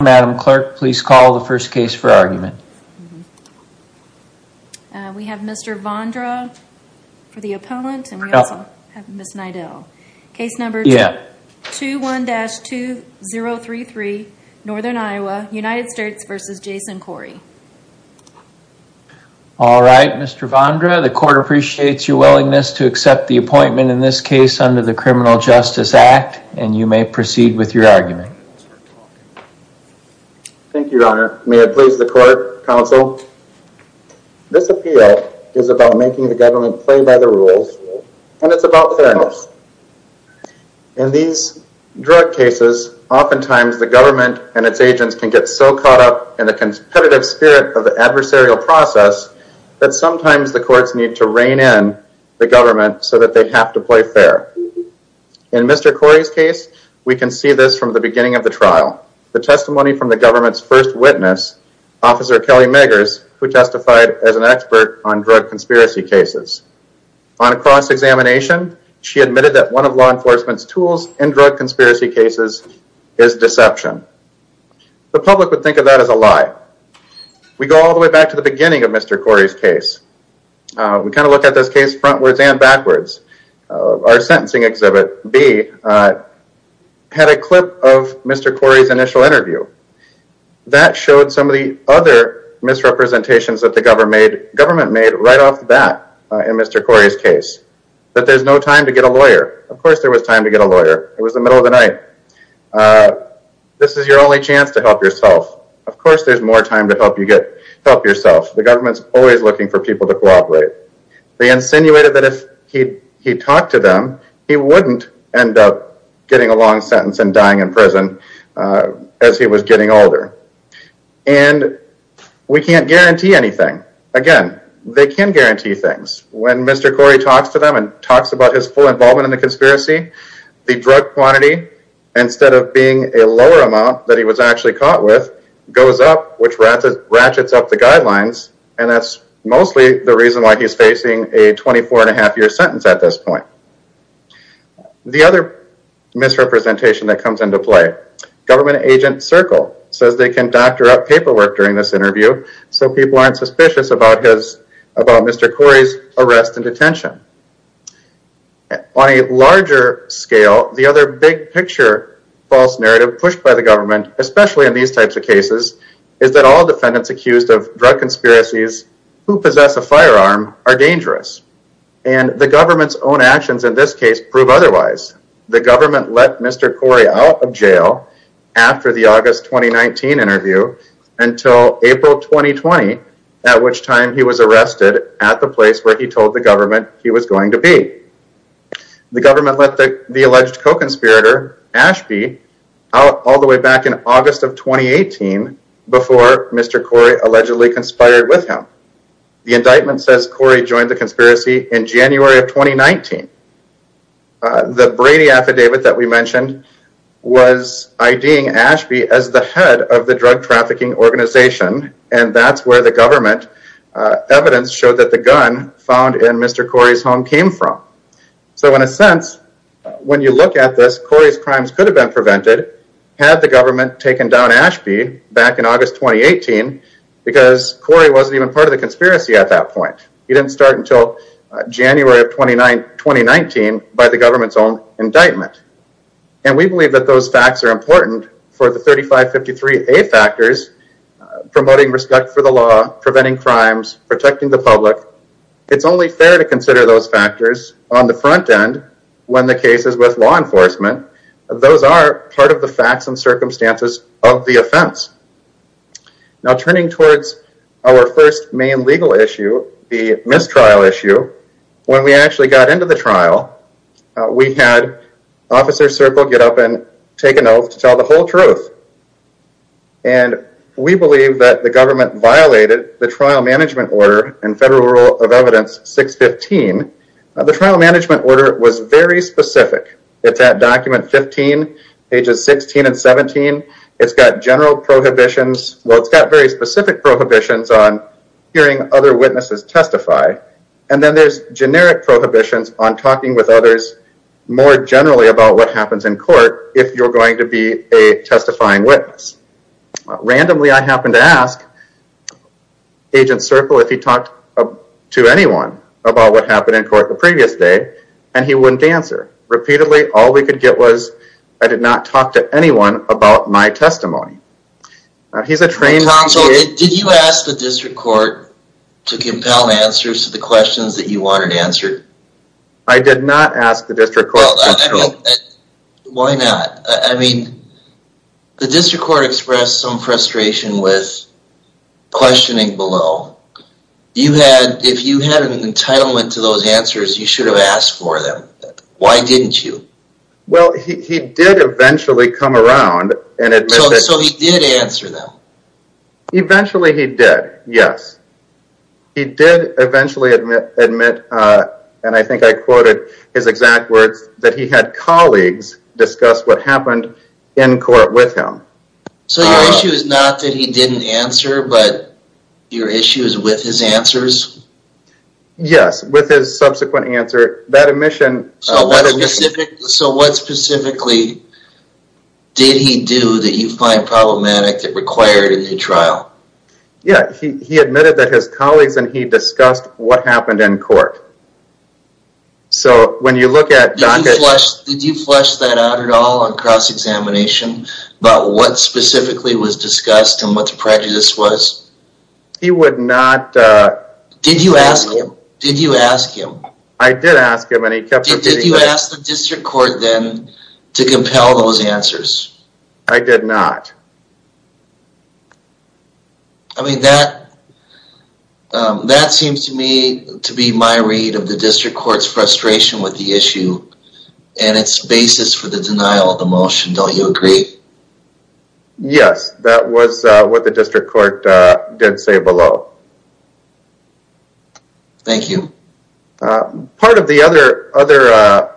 Madam Clerk, please call the first case for argument. We have Mr. Vondra for the opponent and we also have Ms. Nydell. Case number 21-2033 Northern Iowa United States v. Jason Corey. All right, Mr. Vondra, the court appreciates your willingness to accept the appointment in this case under the Criminal Justice Act and you may proceed with your argument. Thank you, Your Honor. May it please the court, counsel, this appeal is about making the government play by the rules and it's about fairness. In these drug cases, oftentimes the government and its agents can get so caught up in the competitive spirit of the adversarial process that sometimes the courts need to rein in the government so that they have to play fair. In Mr. Corey's case, we can see this from the beginning of the trial. The testimony from the government's first witness, Officer Kelly Meggers, who testified as an expert on drug conspiracy cases. On a cross-examination, she admitted that one of law enforcement's tools in drug conspiracy cases is deception. The public would think of that as a lie. We go all the way back to the beginning of Mr. Corey's case. We kind of look at this case frontwards and backwards. Our sentencing exhibit, B, had a clip of Mr. Corey's initial interview. That showed some of the other misrepresentations that the government made right off the bat in Mr. Corey's case. That there's no time to get a lawyer. Of course there was time to get a lawyer, it was the middle of the night. This is your only chance to help yourself. Of course there's more time to help yourself. The government's always looking for people to cooperate. They insinuated that if he talked to them, he wouldn't end up getting a long sentence and dying in prison as he was getting older. We can't guarantee anything. Again, they can guarantee things. When Mr. Corey talks to them and talks about his full involvement in the conspiracy, the drug quantity, instead of being a lower amount that he was actually caught with, goes up, which ratchets up the guidelines. That's mostly the reason why he's facing a 24 and a half year sentence at this point. The other misrepresentation that comes into play, government agent Circle says they can doctor up paperwork during this interview so people aren't suspicious about Mr. Corey's arrest and detention. On a larger scale, the other big picture false narrative pushed by the government, especially in these types of cases, is that all defendants accused of drug conspiracies who possess a firearm are dangerous. The government's own actions in this case prove otherwise. The government let Mr. Corey out of jail after the August 2019 interview until April 2020, at which time he was arrested at the place where he told the government he was going to be. The government let the alleged co-conspirator, Ashby, out all the way back in August of 2018 before Mr. Corey allegedly conspired with him. The indictment says Corey joined the conspiracy in January of 2019. The Brady affidavit that we mentioned was IDing Ashby as the head of the drug trafficking organization and that's where the government evidence showed that the gun found in Mr. Corey's home came from. So in a sense, when you look at this, Corey's crimes could have been prevented had the government taken down Ashby back in August 2018 because Corey wasn't even part of the conspiracy at that point. He didn't start until January of 2019 by the government's own indictment. And we believe that those facts are important for the 3553A factors, promoting respect for the law, preventing crimes, protecting the public. It's only fair to consider those factors on the front end when the case is with law enforcement. Those are part of the facts and circumstances of the offense. Now turning towards our first main legal issue, the mistrial issue, when we actually got into the trial, we had Officer Circle get up and take an oath to tell the whole truth. And we believe that the government violated the trial management order in Federal Rule of Evidence 615. The trial management order was very specific. It's at document 15, pages 16 and 17. It's got general prohibitions. Well, it's got very specific prohibitions on hearing other witnesses testify. And then there's generic prohibitions on talking with others more generally about what happens in court if you're going to be a testifying witness. Randomly, I happened to ask Agent Circle if he talked to anyone about what happened in court the previous day, and he wouldn't answer. Repeatedly, all we could get was, I did not talk to anyone about my testimony. He's a trained... Tom, so did you ask the district court to compel answers to the questions that you wanted answered? I did not ask the district court to compel... Why not? I mean, the district court expressed some frustration with questioning below. If you had an entitlement to those answers, you should have asked for them. Why didn't you? Well, he did eventually come around and admit that... So he did answer them? Eventually he did, yes. He did eventually admit, and I think I quoted his exact words, that he had colleagues discuss what happened in court with him. So your issue is not that he didn't answer, but your issue is with his answers? Yes, with his subsequent answer. That admission... So what specifically did he do that you find problematic that required a new trial? Yeah, he admitted that his colleagues and he discussed what happened in court. So when you look at... Did you flesh that out at all on cross-examination about what specifically was discussed and what the prejudice was? He would not... Did you ask him? Did you ask him? I did ask him and he kept repeating... Did you ask the district court then to compel those answers? I did not. I mean, that seems to me to be my read of the district court's frustration with the issue and its basis for the denial of the motion, don't you agree? Yes, that was what the district court did say below. Thank you. Part of the other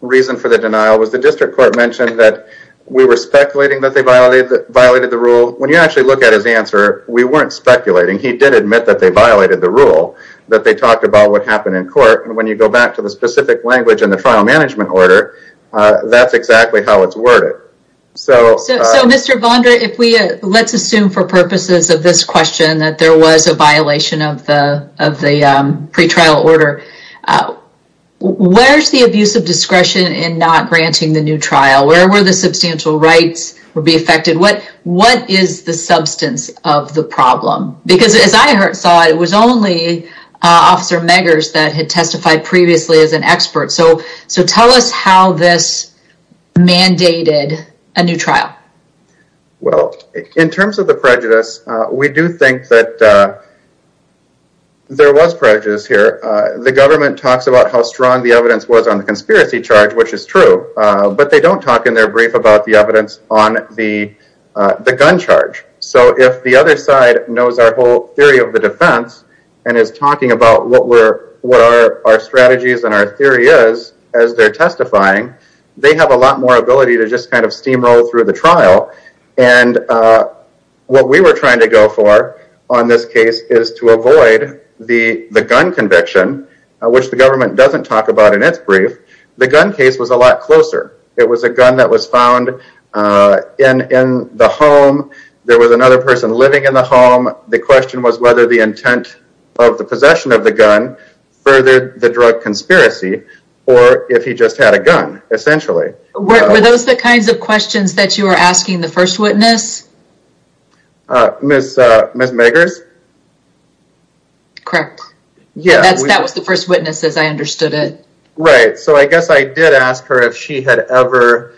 reason for the denial was the district court mentioned that we were violated the rule. When you actually look at his answer, we weren't speculating. He did admit that they violated the rule, that they talked about what happened in court. When you go back to the specific language in the trial management order, that's exactly how it's worded. So... So, Mr. Vonder, if we... Let's assume for purposes of this question that there was a violation of the pretrial order, where's the abuse of discretion in not granting the new trial? Where were the substantial rights would be affected? What is the substance of the problem? Because as I saw it, it was only Officer Meggers that had testified previously as an expert. So tell us how this mandated a new trial. Well, in terms of the prejudice, we do think that there was prejudice here. The government talks about how strong the evidence was on the conspiracy charge, which is true, but they don't talk in their brief about the evidence on the gun charge. So if the other side knows our whole theory of the defense and is talking about what our strategies and our theory is as they're testifying, they have a lot more ability to just kind of steamroll through the trial. And what we were trying to go for on this case is to avoid the gun conviction, which the government doesn't talk about in its brief. The gun case was a lot closer. It was a gun that was found in the home. There was another person living in the home. The question was whether the intent of the possession of the gun furthered the drug conspiracy or if he just had a gun, essentially. Were those the kinds of questions that you were asking the first witness? Ms. Meggers? Correct. Yeah. That was the first witness as I understood it. Right. So I guess I did ask her if she had ever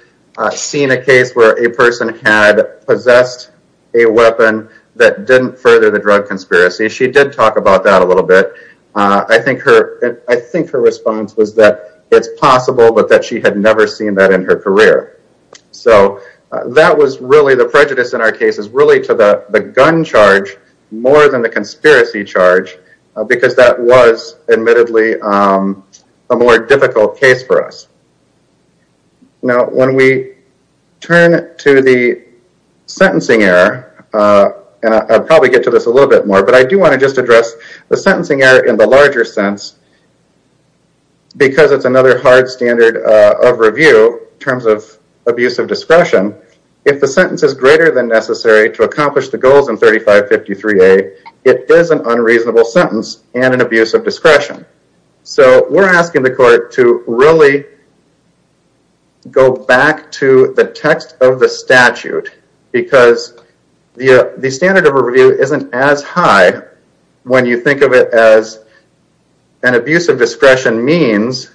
seen a case where a person had possessed a weapon that didn't further the drug conspiracy. She did talk about that a little bit. I think her response was that it's possible, but that she had never seen that in her career. So that was really the prejudice in our case is really to the gun charge more than the more difficult case for us. Now when we turn to the sentencing error, and I'll probably get to this a little bit more, but I do want to just address the sentencing error in the larger sense because it's another hard standard of review in terms of abuse of discretion. If the sentence is greater than necessary to accomplish the goals in 3553A, it is an unreasonable sentence and an abuse of discretion. So we're asking the court to really go back to the text of the statute because the standard of review isn't as high when you think of it as an abuse of discretion means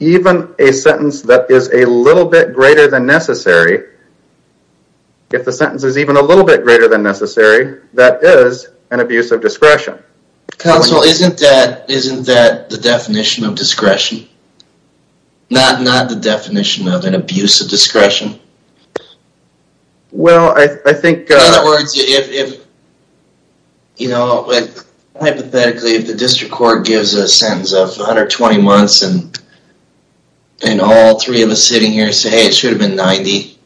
even a sentence that is a little bit greater than necessary, if the sentence is even a little bit greater than necessary, that is an abuse of discretion. Counsel, isn't that the definition of discretion? Not the definition of an abuse of discretion? Well I think... In other words, if, you know, hypothetically, if the district court gives a sentence of 120 months and all three of us sitting here say, hey, it should have been 90,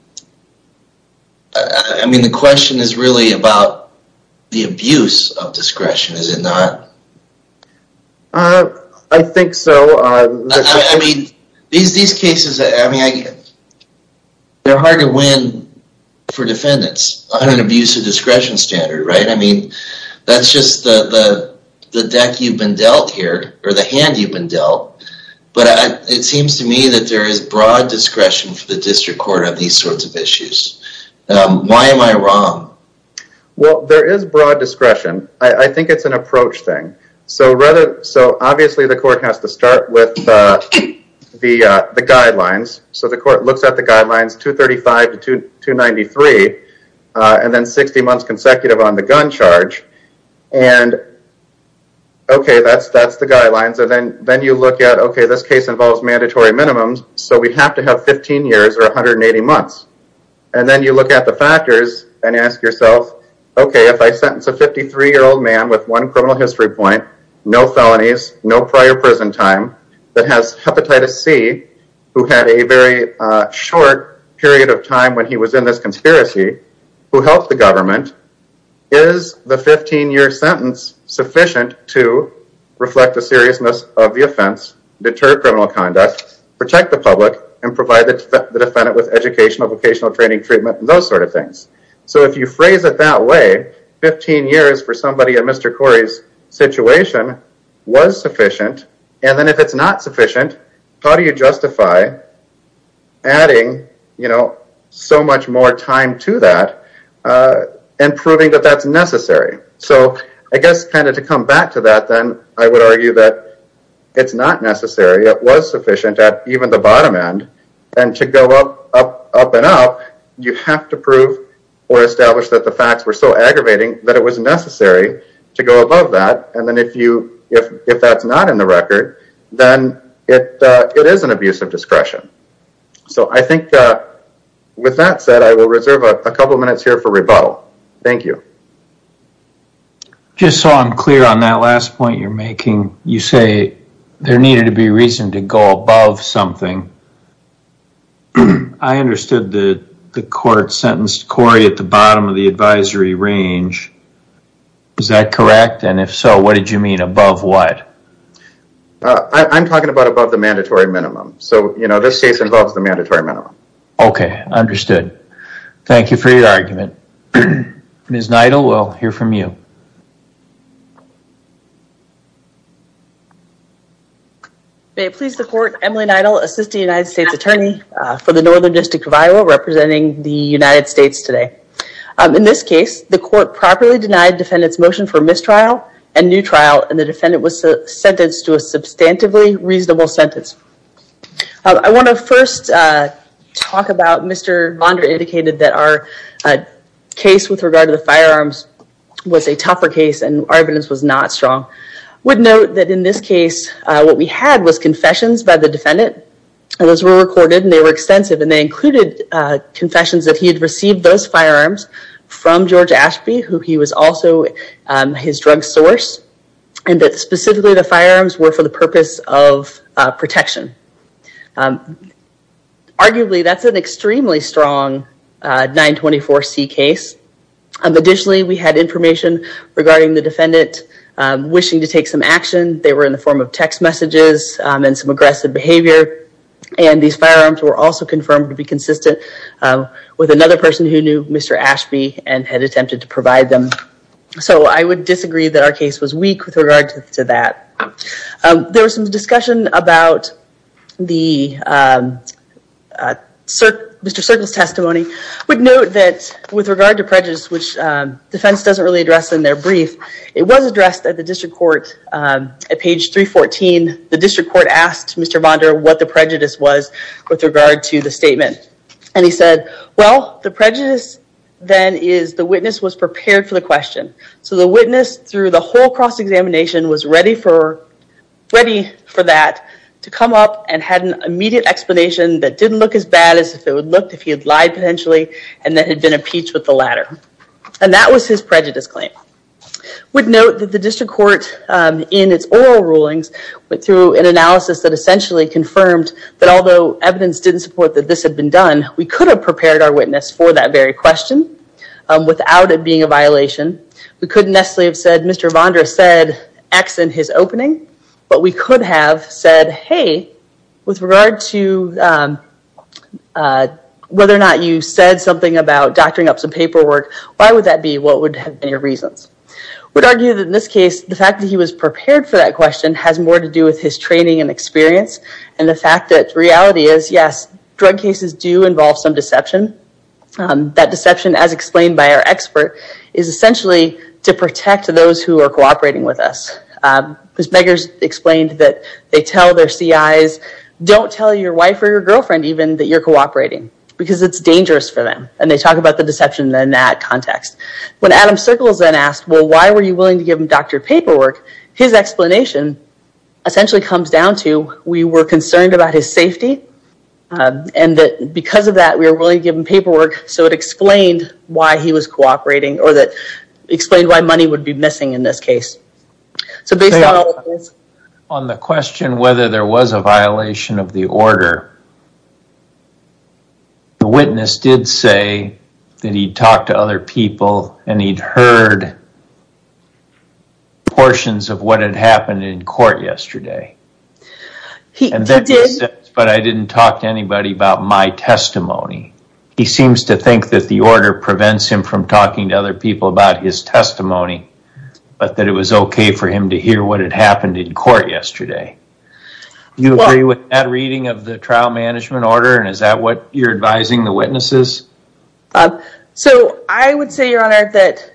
I mean the question is really about the abuse of discretion, is it not? I think so. I mean, these cases, I mean, they're hard to win for defendants on an abuse of discretion standard, right? I mean, that's just the deck you've been dealt here, or the hand you've been dealt, but it seems to me that there is broad discretion for the district court on these sorts of issues. Why am I wrong? Well, there is broad discretion. I think it's an approach thing. So obviously the court has to start with the guidelines. So the court looks at the guidelines, 235 to 293, and then 60 months consecutive on the gun charge, and okay, that's the guidelines, and then you look at, okay, this case involves mandatory minimums, so we have to have 15 years or 180 months, and then you look at the factors and ask yourself, okay, if I sentence a 53-year-old man with one criminal history point, no felonies, no prior prison time, that has hepatitis C, who had a very short period of time when he was in this conspiracy, who helped the government, is the 15-year sentence sufficient to reflect the seriousness of the offense, deter criminal conduct, protect the public, and provide the defendant with educational, vocational training, treatment, and those sort of things? So if you phrase it that way, 15 years for somebody in Mr. Corey's situation was sufficient, and then if it's not sufficient, how do you justify adding so much more time to that and proving that that's necessary? So I guess kind of to come back to that, then, I would argue that it's not necessary. It was sufficient at even the bottom end, and to go up and up, you have to prove or establish that the facts were so aggravating that it was necessary to go above that, and then if that's not in the record, then it is an abuse of discretion. So I think with that said, I will reserve a couple minutes here for rebuttal. Thank you. Just so I'm clear on that last point you're making, you say there needed to be reason to go above something. I understood the court sentenced Corey at the bottom of the advisory range. Is that correct? And if so, what did you mean, above what? I'm talking about above the mandatory minimum. So this case involves the mandatory minimum. Okay. Understood. Thank you for your argument. Ms. Neidl, we'll hear from you. May it please the court, Emily Neidl, Assistant United States Attorney for the Northern District of Iowa, representing the United States today. In this case, the court properly denied defendant's motion for mistrial and new trial, and the defendant was sentenced to a substantively reasonable sentence. I want to first talk about, Mr. Vonder indicated that our case with regard to the firearms was a tougher case, and our evidence was not strong. Would note that in this case, what we had was confessions by the defendant, and those were recorded, and they were extensive, and they included confessions that he had received those firearms from George Ashby, who he was also his drug source, and that specifically the firearms were for the purpose of protection. Arguably, that's an extremely strong 924C case. Additionally, we had information regarding the defendant wishing to take some action. They were in the form of text messages and some aggressive behavior, and these firearms were also confirmed to be consistent with another person who knew Mr. Ashby and had attempted to provide them. So I would disagree that our case was weak with regard to that. There was some discussion about the Mr. Circle's testimony, would note that with regard to prejudice, which defense doesn't really address in their brief, it was addressed at the district court at page 314. The district court asked Mr. Vonder what the prejudice was with regard to the statement, and he said, well, the prejudice then is the witness was prepared for the question. So the witness through the whole cross-examination was ready for that to come up and had an immediate explanation that didn't look as bad as if it would look if he had lied potentially, and that had been impeached with the latter, and that was his prejudice claim. Would note that the district court in its oral rulings went through an analysis that essentially confirmed that although evidence didn't support that this had been done, we could have prepared our witness for that very question without it being a violation. We couldn't necessarily have said Mr. Vonder said X in his opening, but we could have said, hey, with regard to whether or not you said something about doctoring up some paperwork, why would that be? What would have been your reasons? Would argue that in this case, the fact that he was prepared for that question has more to do with his training and experience, and the fact that reality is, yes, drug cases do involve some deception. That deception, as explained by our expert, is essentially to protect those who are cooperating with us. Ms. Beggars explained that they tell their CIs, don't tell your wife or your girlfriend even that you're cooperating, because it's dangerous for them, and they talk about the deception in that context. When Adam Circles then asked, well, why were you willing to give him doctored paperwork, his explanation essentially comes down to, we were concerned about his safety, and that because of that, we were willing to give him paperwork, so it explained why he was cooperating, or that explained why money would be missing in this case. So based on all of this- On the question whether there was a violation of the order, the witness did say that he what had happened in court yesterday, but I didn't talk to anybody about my testimony. He seems to think that the order prevents him from talking to other people about his testimony, but that it was okay for him to hear what had happened in court yesterday. You agree with that reading of the trial management order, and is that what you're advising the witnesses? So, I would say, Your Honor, that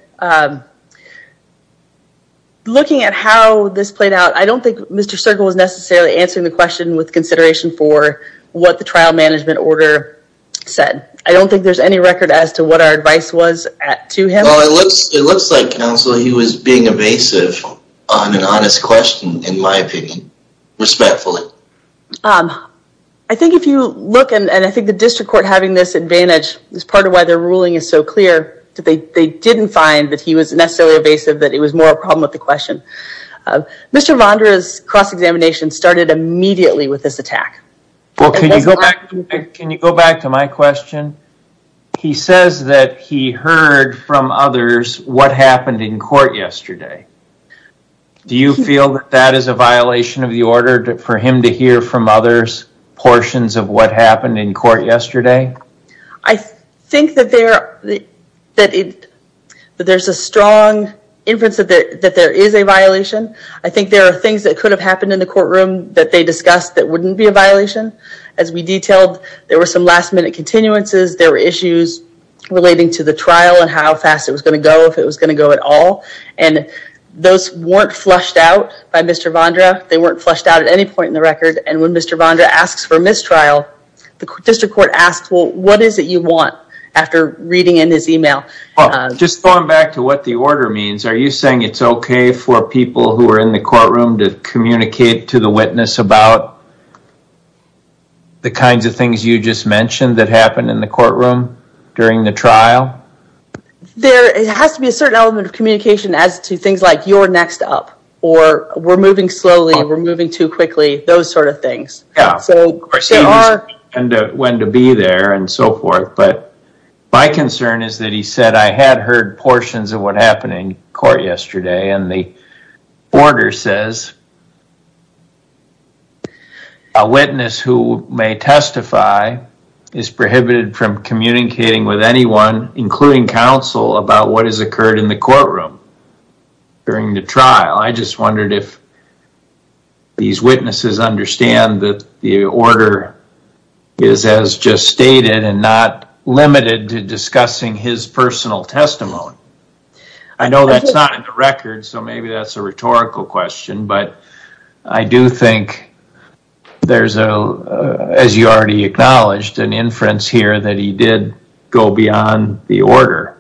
looking at how this played out, I don't think Mr. Circle was necessarily answering the question with consideration for what the trial management order said. I don't think there's any record as to what our advice was to him. Well, it looks like, counsel, he was being evasive on an honest question, in my opinion, respectfully. I think if you look, and I think the district court having this advantage is part of why their ruling is so clear, that they didn't find that he was necessarily evasive, that it was more a problem with the question. Mr. Vondra's cross-examination started immediately with this attack. Well, can you go back to my question? He says that he heard from others what happened in court yesterday. Do you feel that that is a violation of the order for him to hear from others portions of what happened in court yesterday? I think that there's a strong inference that there is a violation. I think there are things that could have happened in the courtroom that they discussed that wouldn't be a violation. As we detailed, there were some last minute continuances, there were issues relating to the trial and how fast it was going to go, if it was going to go at all. Those weren't flushed out by Mr. Vondra. They weren't flushed out at any point in the record. When Mr. Vondra asks for mistrial, the district court asks, well, what is it you want after reading in his email? Just going back to what the order means, are you saying it's okay for people who are in the courtroom to communicate to the witness about the kinds of things you just mentioned that happened in the courtroom during the trial? There has to be a certain element of communication as to things like, you're next up, or we're moving slowly, we're moving too quickly, those sort of things. Yeah, of course, and when to be there and so forth. But my concern is that he said, I had heard portions of what happened in court yesterday and the order says, a witness who may testify is prohibited from communicating with anyone including counsel about what has occurred in the courtroom during the trial. I just wondered if these witnesses understand that the order is as just stated and not limited to discussing his personal testimony. I know that's not in the record, so maybe that's a rhetorical question, but I do think there's a, as you already acknowledged, an inference here that he did go beyond the order.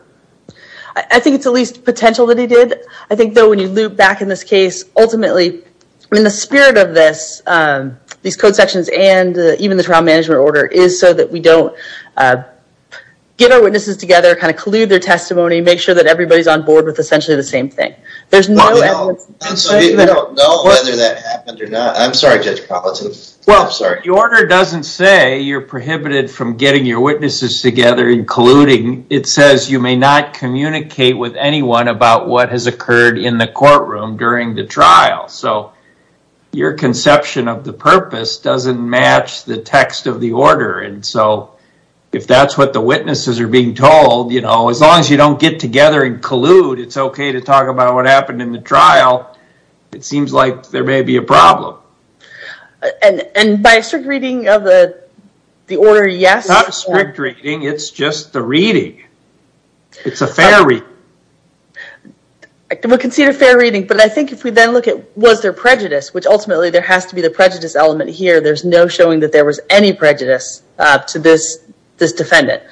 I think it's at least potential that he did. I think though when you loop back in this case, ultimately, in the spirit of this, these code sections and even the trial management order is so that we don't get our witnesses together, kind of collude their testimony, make sure that everybody's on board with essentially the same thing. There's no evidence. I don't know whether that happened or not. I'm sorry, Judge Palazzo. Well, I'm sorry. The order doesn't say you're prohibited from getting your witnesses together, including, it says you may not communicate with anyone about what has occurred in the courtroom during the trial. So your conception of the purpose doesn't match the text of the order and so if that's what the witnesses are being told, as long as you don't get together and collude, it's not, it seems like there may be a problem. And by a strict reading of the order, yes. It's not a strict reading. It's just the reading. It's a fair reading. I would consider it a fair reading, but I think if we then look at was there prejudice, which ultimately there has to be the prejudice element here. There's no showing that there was any prejudice to this defendant.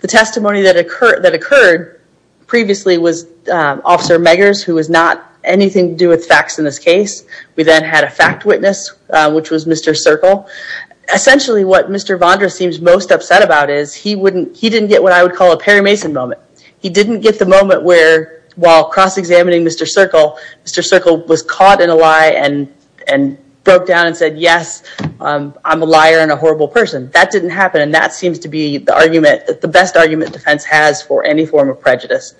The testimony that occurred previously was Officer Meggers, who has not anything to do with facts in this case. We then had a fact witness, which was Mr. Circle. Essentially what Mr. Vondra seems most upset about is he didn't get what I would call a Perry Mason moment. He didn't get the moment where while cross-examining Mr. Circle, Mr. Circle was caught in a lie and broke down and said, yes, I'm a liar and a horrible person. That didn't happen. And that seems to be the argument, the best argument defense has for any form of prejudice.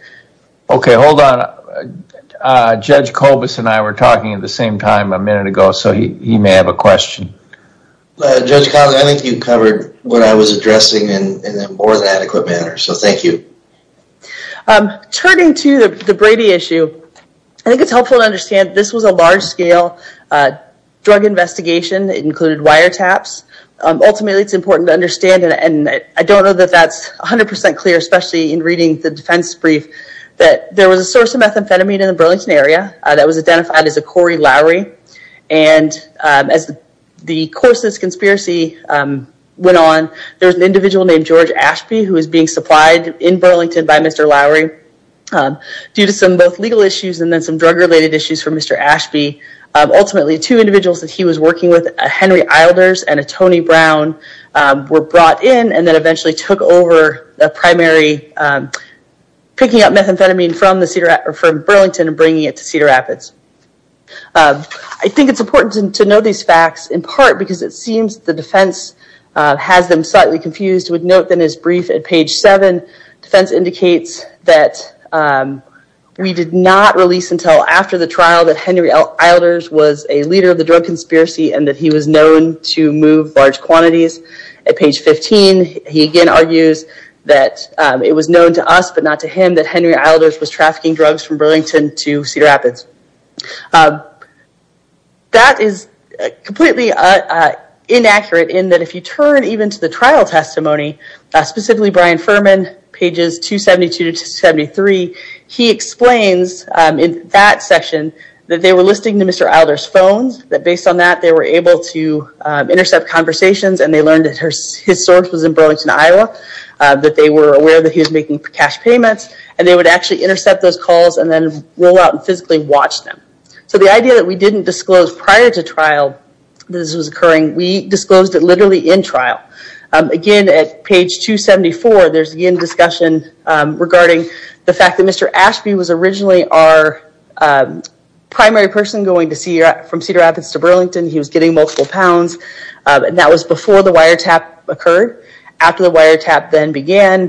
Okay. Hold on. Judge Colbus and I were talking at the same time a minute ago, so he may have a question. Judge Collins, I think you covered what I was addressing in a more than adequate manner. So thank you. Turning to the Brady issue, I think it's helpful to understand this was a large scale drug investigation. It included wiretaps. Ultimately, it's important to understand, and I don't know that that's 100% clear, especially in reading the defense brief, that there was a source of methamphetamine in the Burlington area that was identified as a Corey Lowry. And as the course of this conspiracy went on, there was an individual named George Ashby who was being supplied in Burlington by Mr. Lowry due to some both legal issues and then some drug related issues for Mr. Ashby. Ultimately, two individuals that he was working with, a Henry Eilders and a Tony Brown, were brought in and then eventually took over the primary, picking up methamphetamine from Burlington and bringing it to Cedar Rapids. I think it's important to know these facts in part because it seems the defense has them slightly confused. We'd note that in his brief at page seven, defense indicates that we did not release until after the trial that Henry Eilders was a leader of the drug conspiracy and that he was known to move large quantities. At page 15, he again argues that it was known to us but not to him that Henry Eilders was trafficking drugs from Burlington to Cedar Rapids. That is completely inaccurate in that if you turn even to the trial testimony, specifically Brian Furman, pages 272 to 273, he explains in that section that they were listening to Mr. Eilders' phones, that based on that, they were able to intercept conversations and they learned that his source was in Burlington, Iowa, that they were aware that he was making cash payments and they would actually intercept those calls and then roll out and physically watch them. The idea that we didn't disclose prior to trial that this was occurring, we disclosed it literally in trial. Again, at page 274, there's again discussion regarding the fact that Mr. Ashby was originally our primary person going from Cedar Rapids to Burlington. He was getting multiple pounds and that was before the wiretap occurred. After the wiretap then began,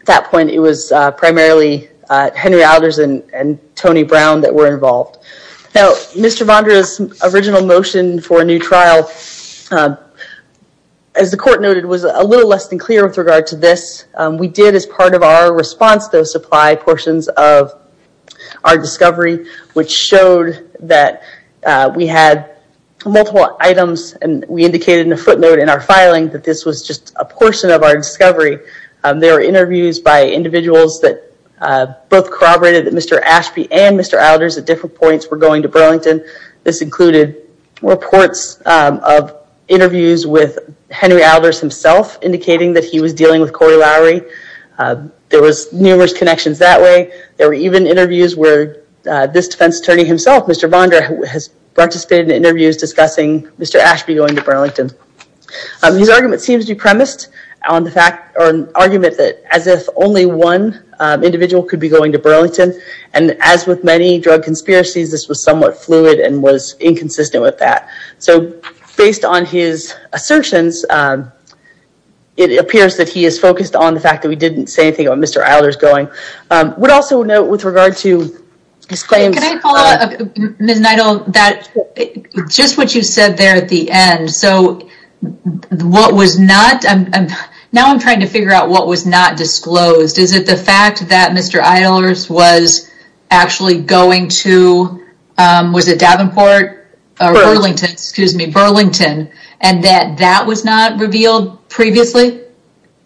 at that point, it was primarily Henry Eilders and Tony Brown that were involved. Now, Mr. Vondra's original motion for a new trial, as the court noted, was a little less than clear with regard to this. We did as part of our response, those supply portions of our discovery, which showed that we had multiple items and we indicated in a footnote in our filing that this was just a portion of our discovery. There were interviews by individuals that both corroborated that Mr. Ashby and Mr. Eilders at different points were going to Burlington. This included reports of interviews with Henry Eilders himself indicating that he was dealing with Corey Lowry. There was numerous connections that way. There were even interviews where this defense attorney himself, Mr. Vondra, has participated in interviews discussing Mr. Ashby going to Burlington. His argument seems to be premised on the fact or an argument that as if only one individual could be going to Burlington. As with many drug conspiracies, this was somewhat fluid and was inconsistent with that. Based on his assertions, it appears that he is focused on the fact that we didn't say anything about Mr. Eilders going. I would also note with regard to his claims- Can I follow up, Ms. Neidl? Just what you said there at the end, now I'm trying to figure out what was not disclosed. Is it the fact that Mr. Eilders was actually going to, was it Davenport? Burlington, excuse me, Burlington and that that was not revealed previously?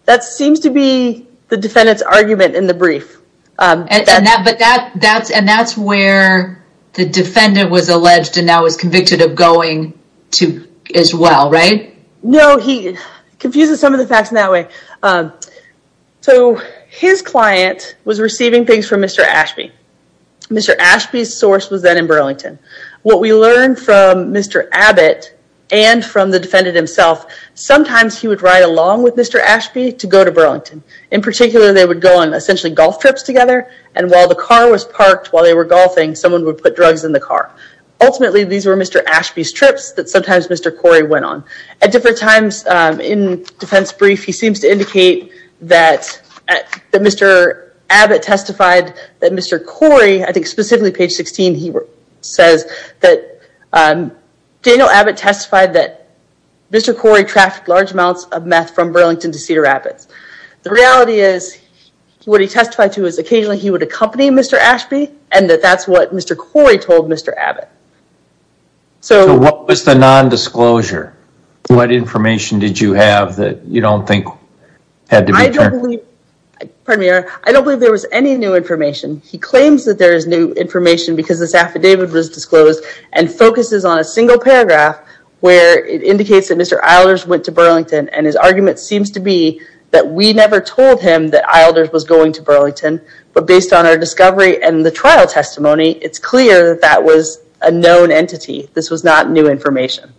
That seems to be the defendant's argument in the brief. And that's where the defendant was alleged and now is convicted of going to as well, right? No, he confuses some of the facts in that way. So his client was receiving things from Mr. Ashby. Mr. Ashby's source was then in Burlington. What we learned from Mr. Abbott and from the defendant himself, sometimes he would ride along with Mr. Ashby to go to Burlington. In particular, they would go on essentially golf trips together and while the car was parked while they were golfing, someone would put drugs in the car. Ultimately, these were Mr. Ashby's trips that sometimes Mr. Corey went on. At different times in defense brief, he seems to indicate that Mr. Abbott testified that Mr. Corey, I think specifically page 16, he says that Daniel Abbott testified that Mr. Corey trafficked large amounts of meth from Burlington to Cedar Rapids. The reality is what he testified to is occasionally he would accompany Mr. Ashby and that that's what Mr. Corey told Mr. Abbott. So what was the non-disclosure? What information did you have that you don't think had to be turned? I don't believe there was any new information. He claims that there is new information because this affidavit was disclosed and focuses on a single paragraph where it indicates that Mr. Eilders went to Burlington and his argument seems to be that we never told him that Eilders was going to Burlington, but based on our known entity, this was not new information.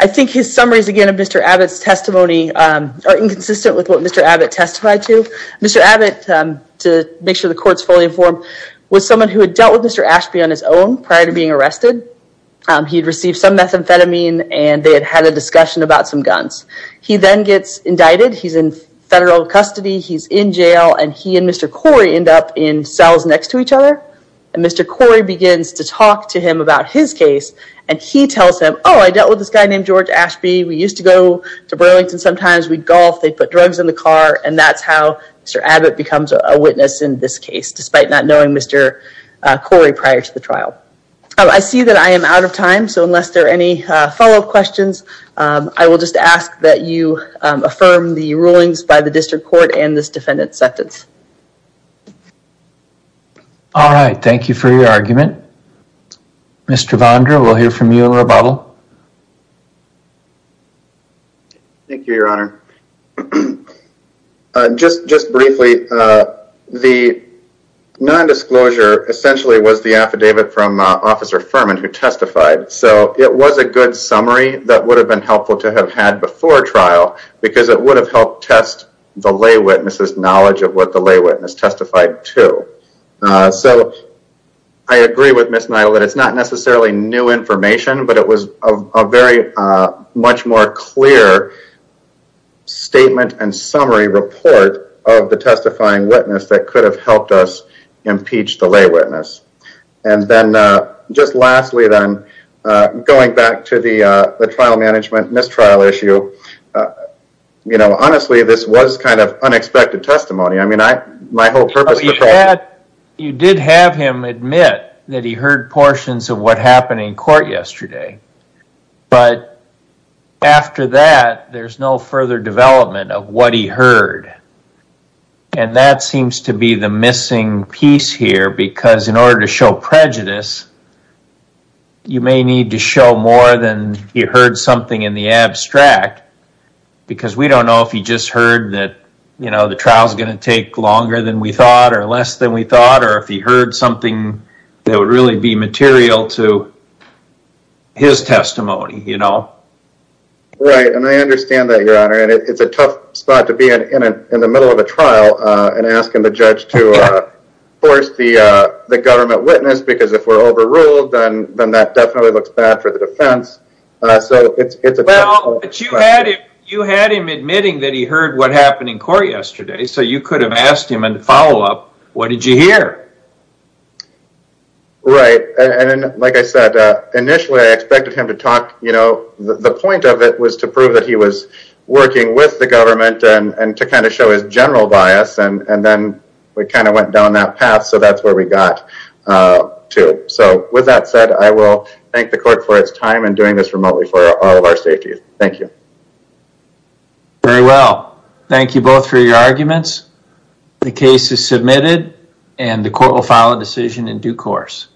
I think his summaries again of Mr. Abbott's testimony are inconsistent with what Mr. Abbott testified to. Mr. Abbott, to make sure the court's fully informed, was someone who had dealt with Mr. Ashby on his own prior to being arrested. He'd received some methamphetamine and they had had a discussion about some guns. He then gets indicted. He's in federal custody. He's in jail and he and Mr. Corey end up in cells next to each other and Mr. Corey begins to talk to him about his case and he tells him, oh, I dealt with this guy named George Ashby. We used to go to Burlington sometimes. We'd golf. They put drugs in the car and that's how Mr. Abbott becomes a witness in this case, despite not knowing Mr. Corey prior to the trial. I see that I am out of time, so unless there are any follow-up questions, I will just ask that you affirm the rulings by the district court and this defendant's sentence. All right. Thank you for your argument. Mr. Vonder, we'll hear from you in a little while. Thank you, Your Honor. Just briefly, the non-disclosure essentially was the affidavit from Officer Furman, who testified. It was a good summary that would have been helpful to have had before trial because it would have helped test the lay witness's knowledge of what the lay witness testified to. I agree with Ms. Neidel that it's not necessarily new information, but it was a very much more clear statement and summary report of the testifying witness that could have helped us impeach the lay witness. Then, just lastly then, going back to the trial management mistrial issue, honestly, this was kind of unexpected testimony. My whole purpose... You did have him admit that he heard portions of what happened in court yesterday, but after that, there's no further development of what he heard. That seems to be the missing piece here because in order to show prejudice, you may need to show more than you heard something in the abstract because we don't know if he just heard that the trial's going to take longer than we thought or less than we thought or if he heard something that would really be material to his testimony. I understand that, Your Honor. It's a tough spot to be in in the middle of a trial and ask the judge to force the government witness because if we're overruled, then that definitely looks bad for the defense. You had him admitting that he heard what happened in court yesterday, so you could have asked him in the follow-up, what did you hear? Like I said, initially, I expected him to talk. The point of it was to prove that he was working with the government and to kind of show his general bias, and then we kind of went down that path, so that's where we got to. With that said, I will thank the court for its time in doing this remotely for all of our safety. Thank you. Very well. Thank you both for your arguments. The case is submitted, and the court will file a decision in due course.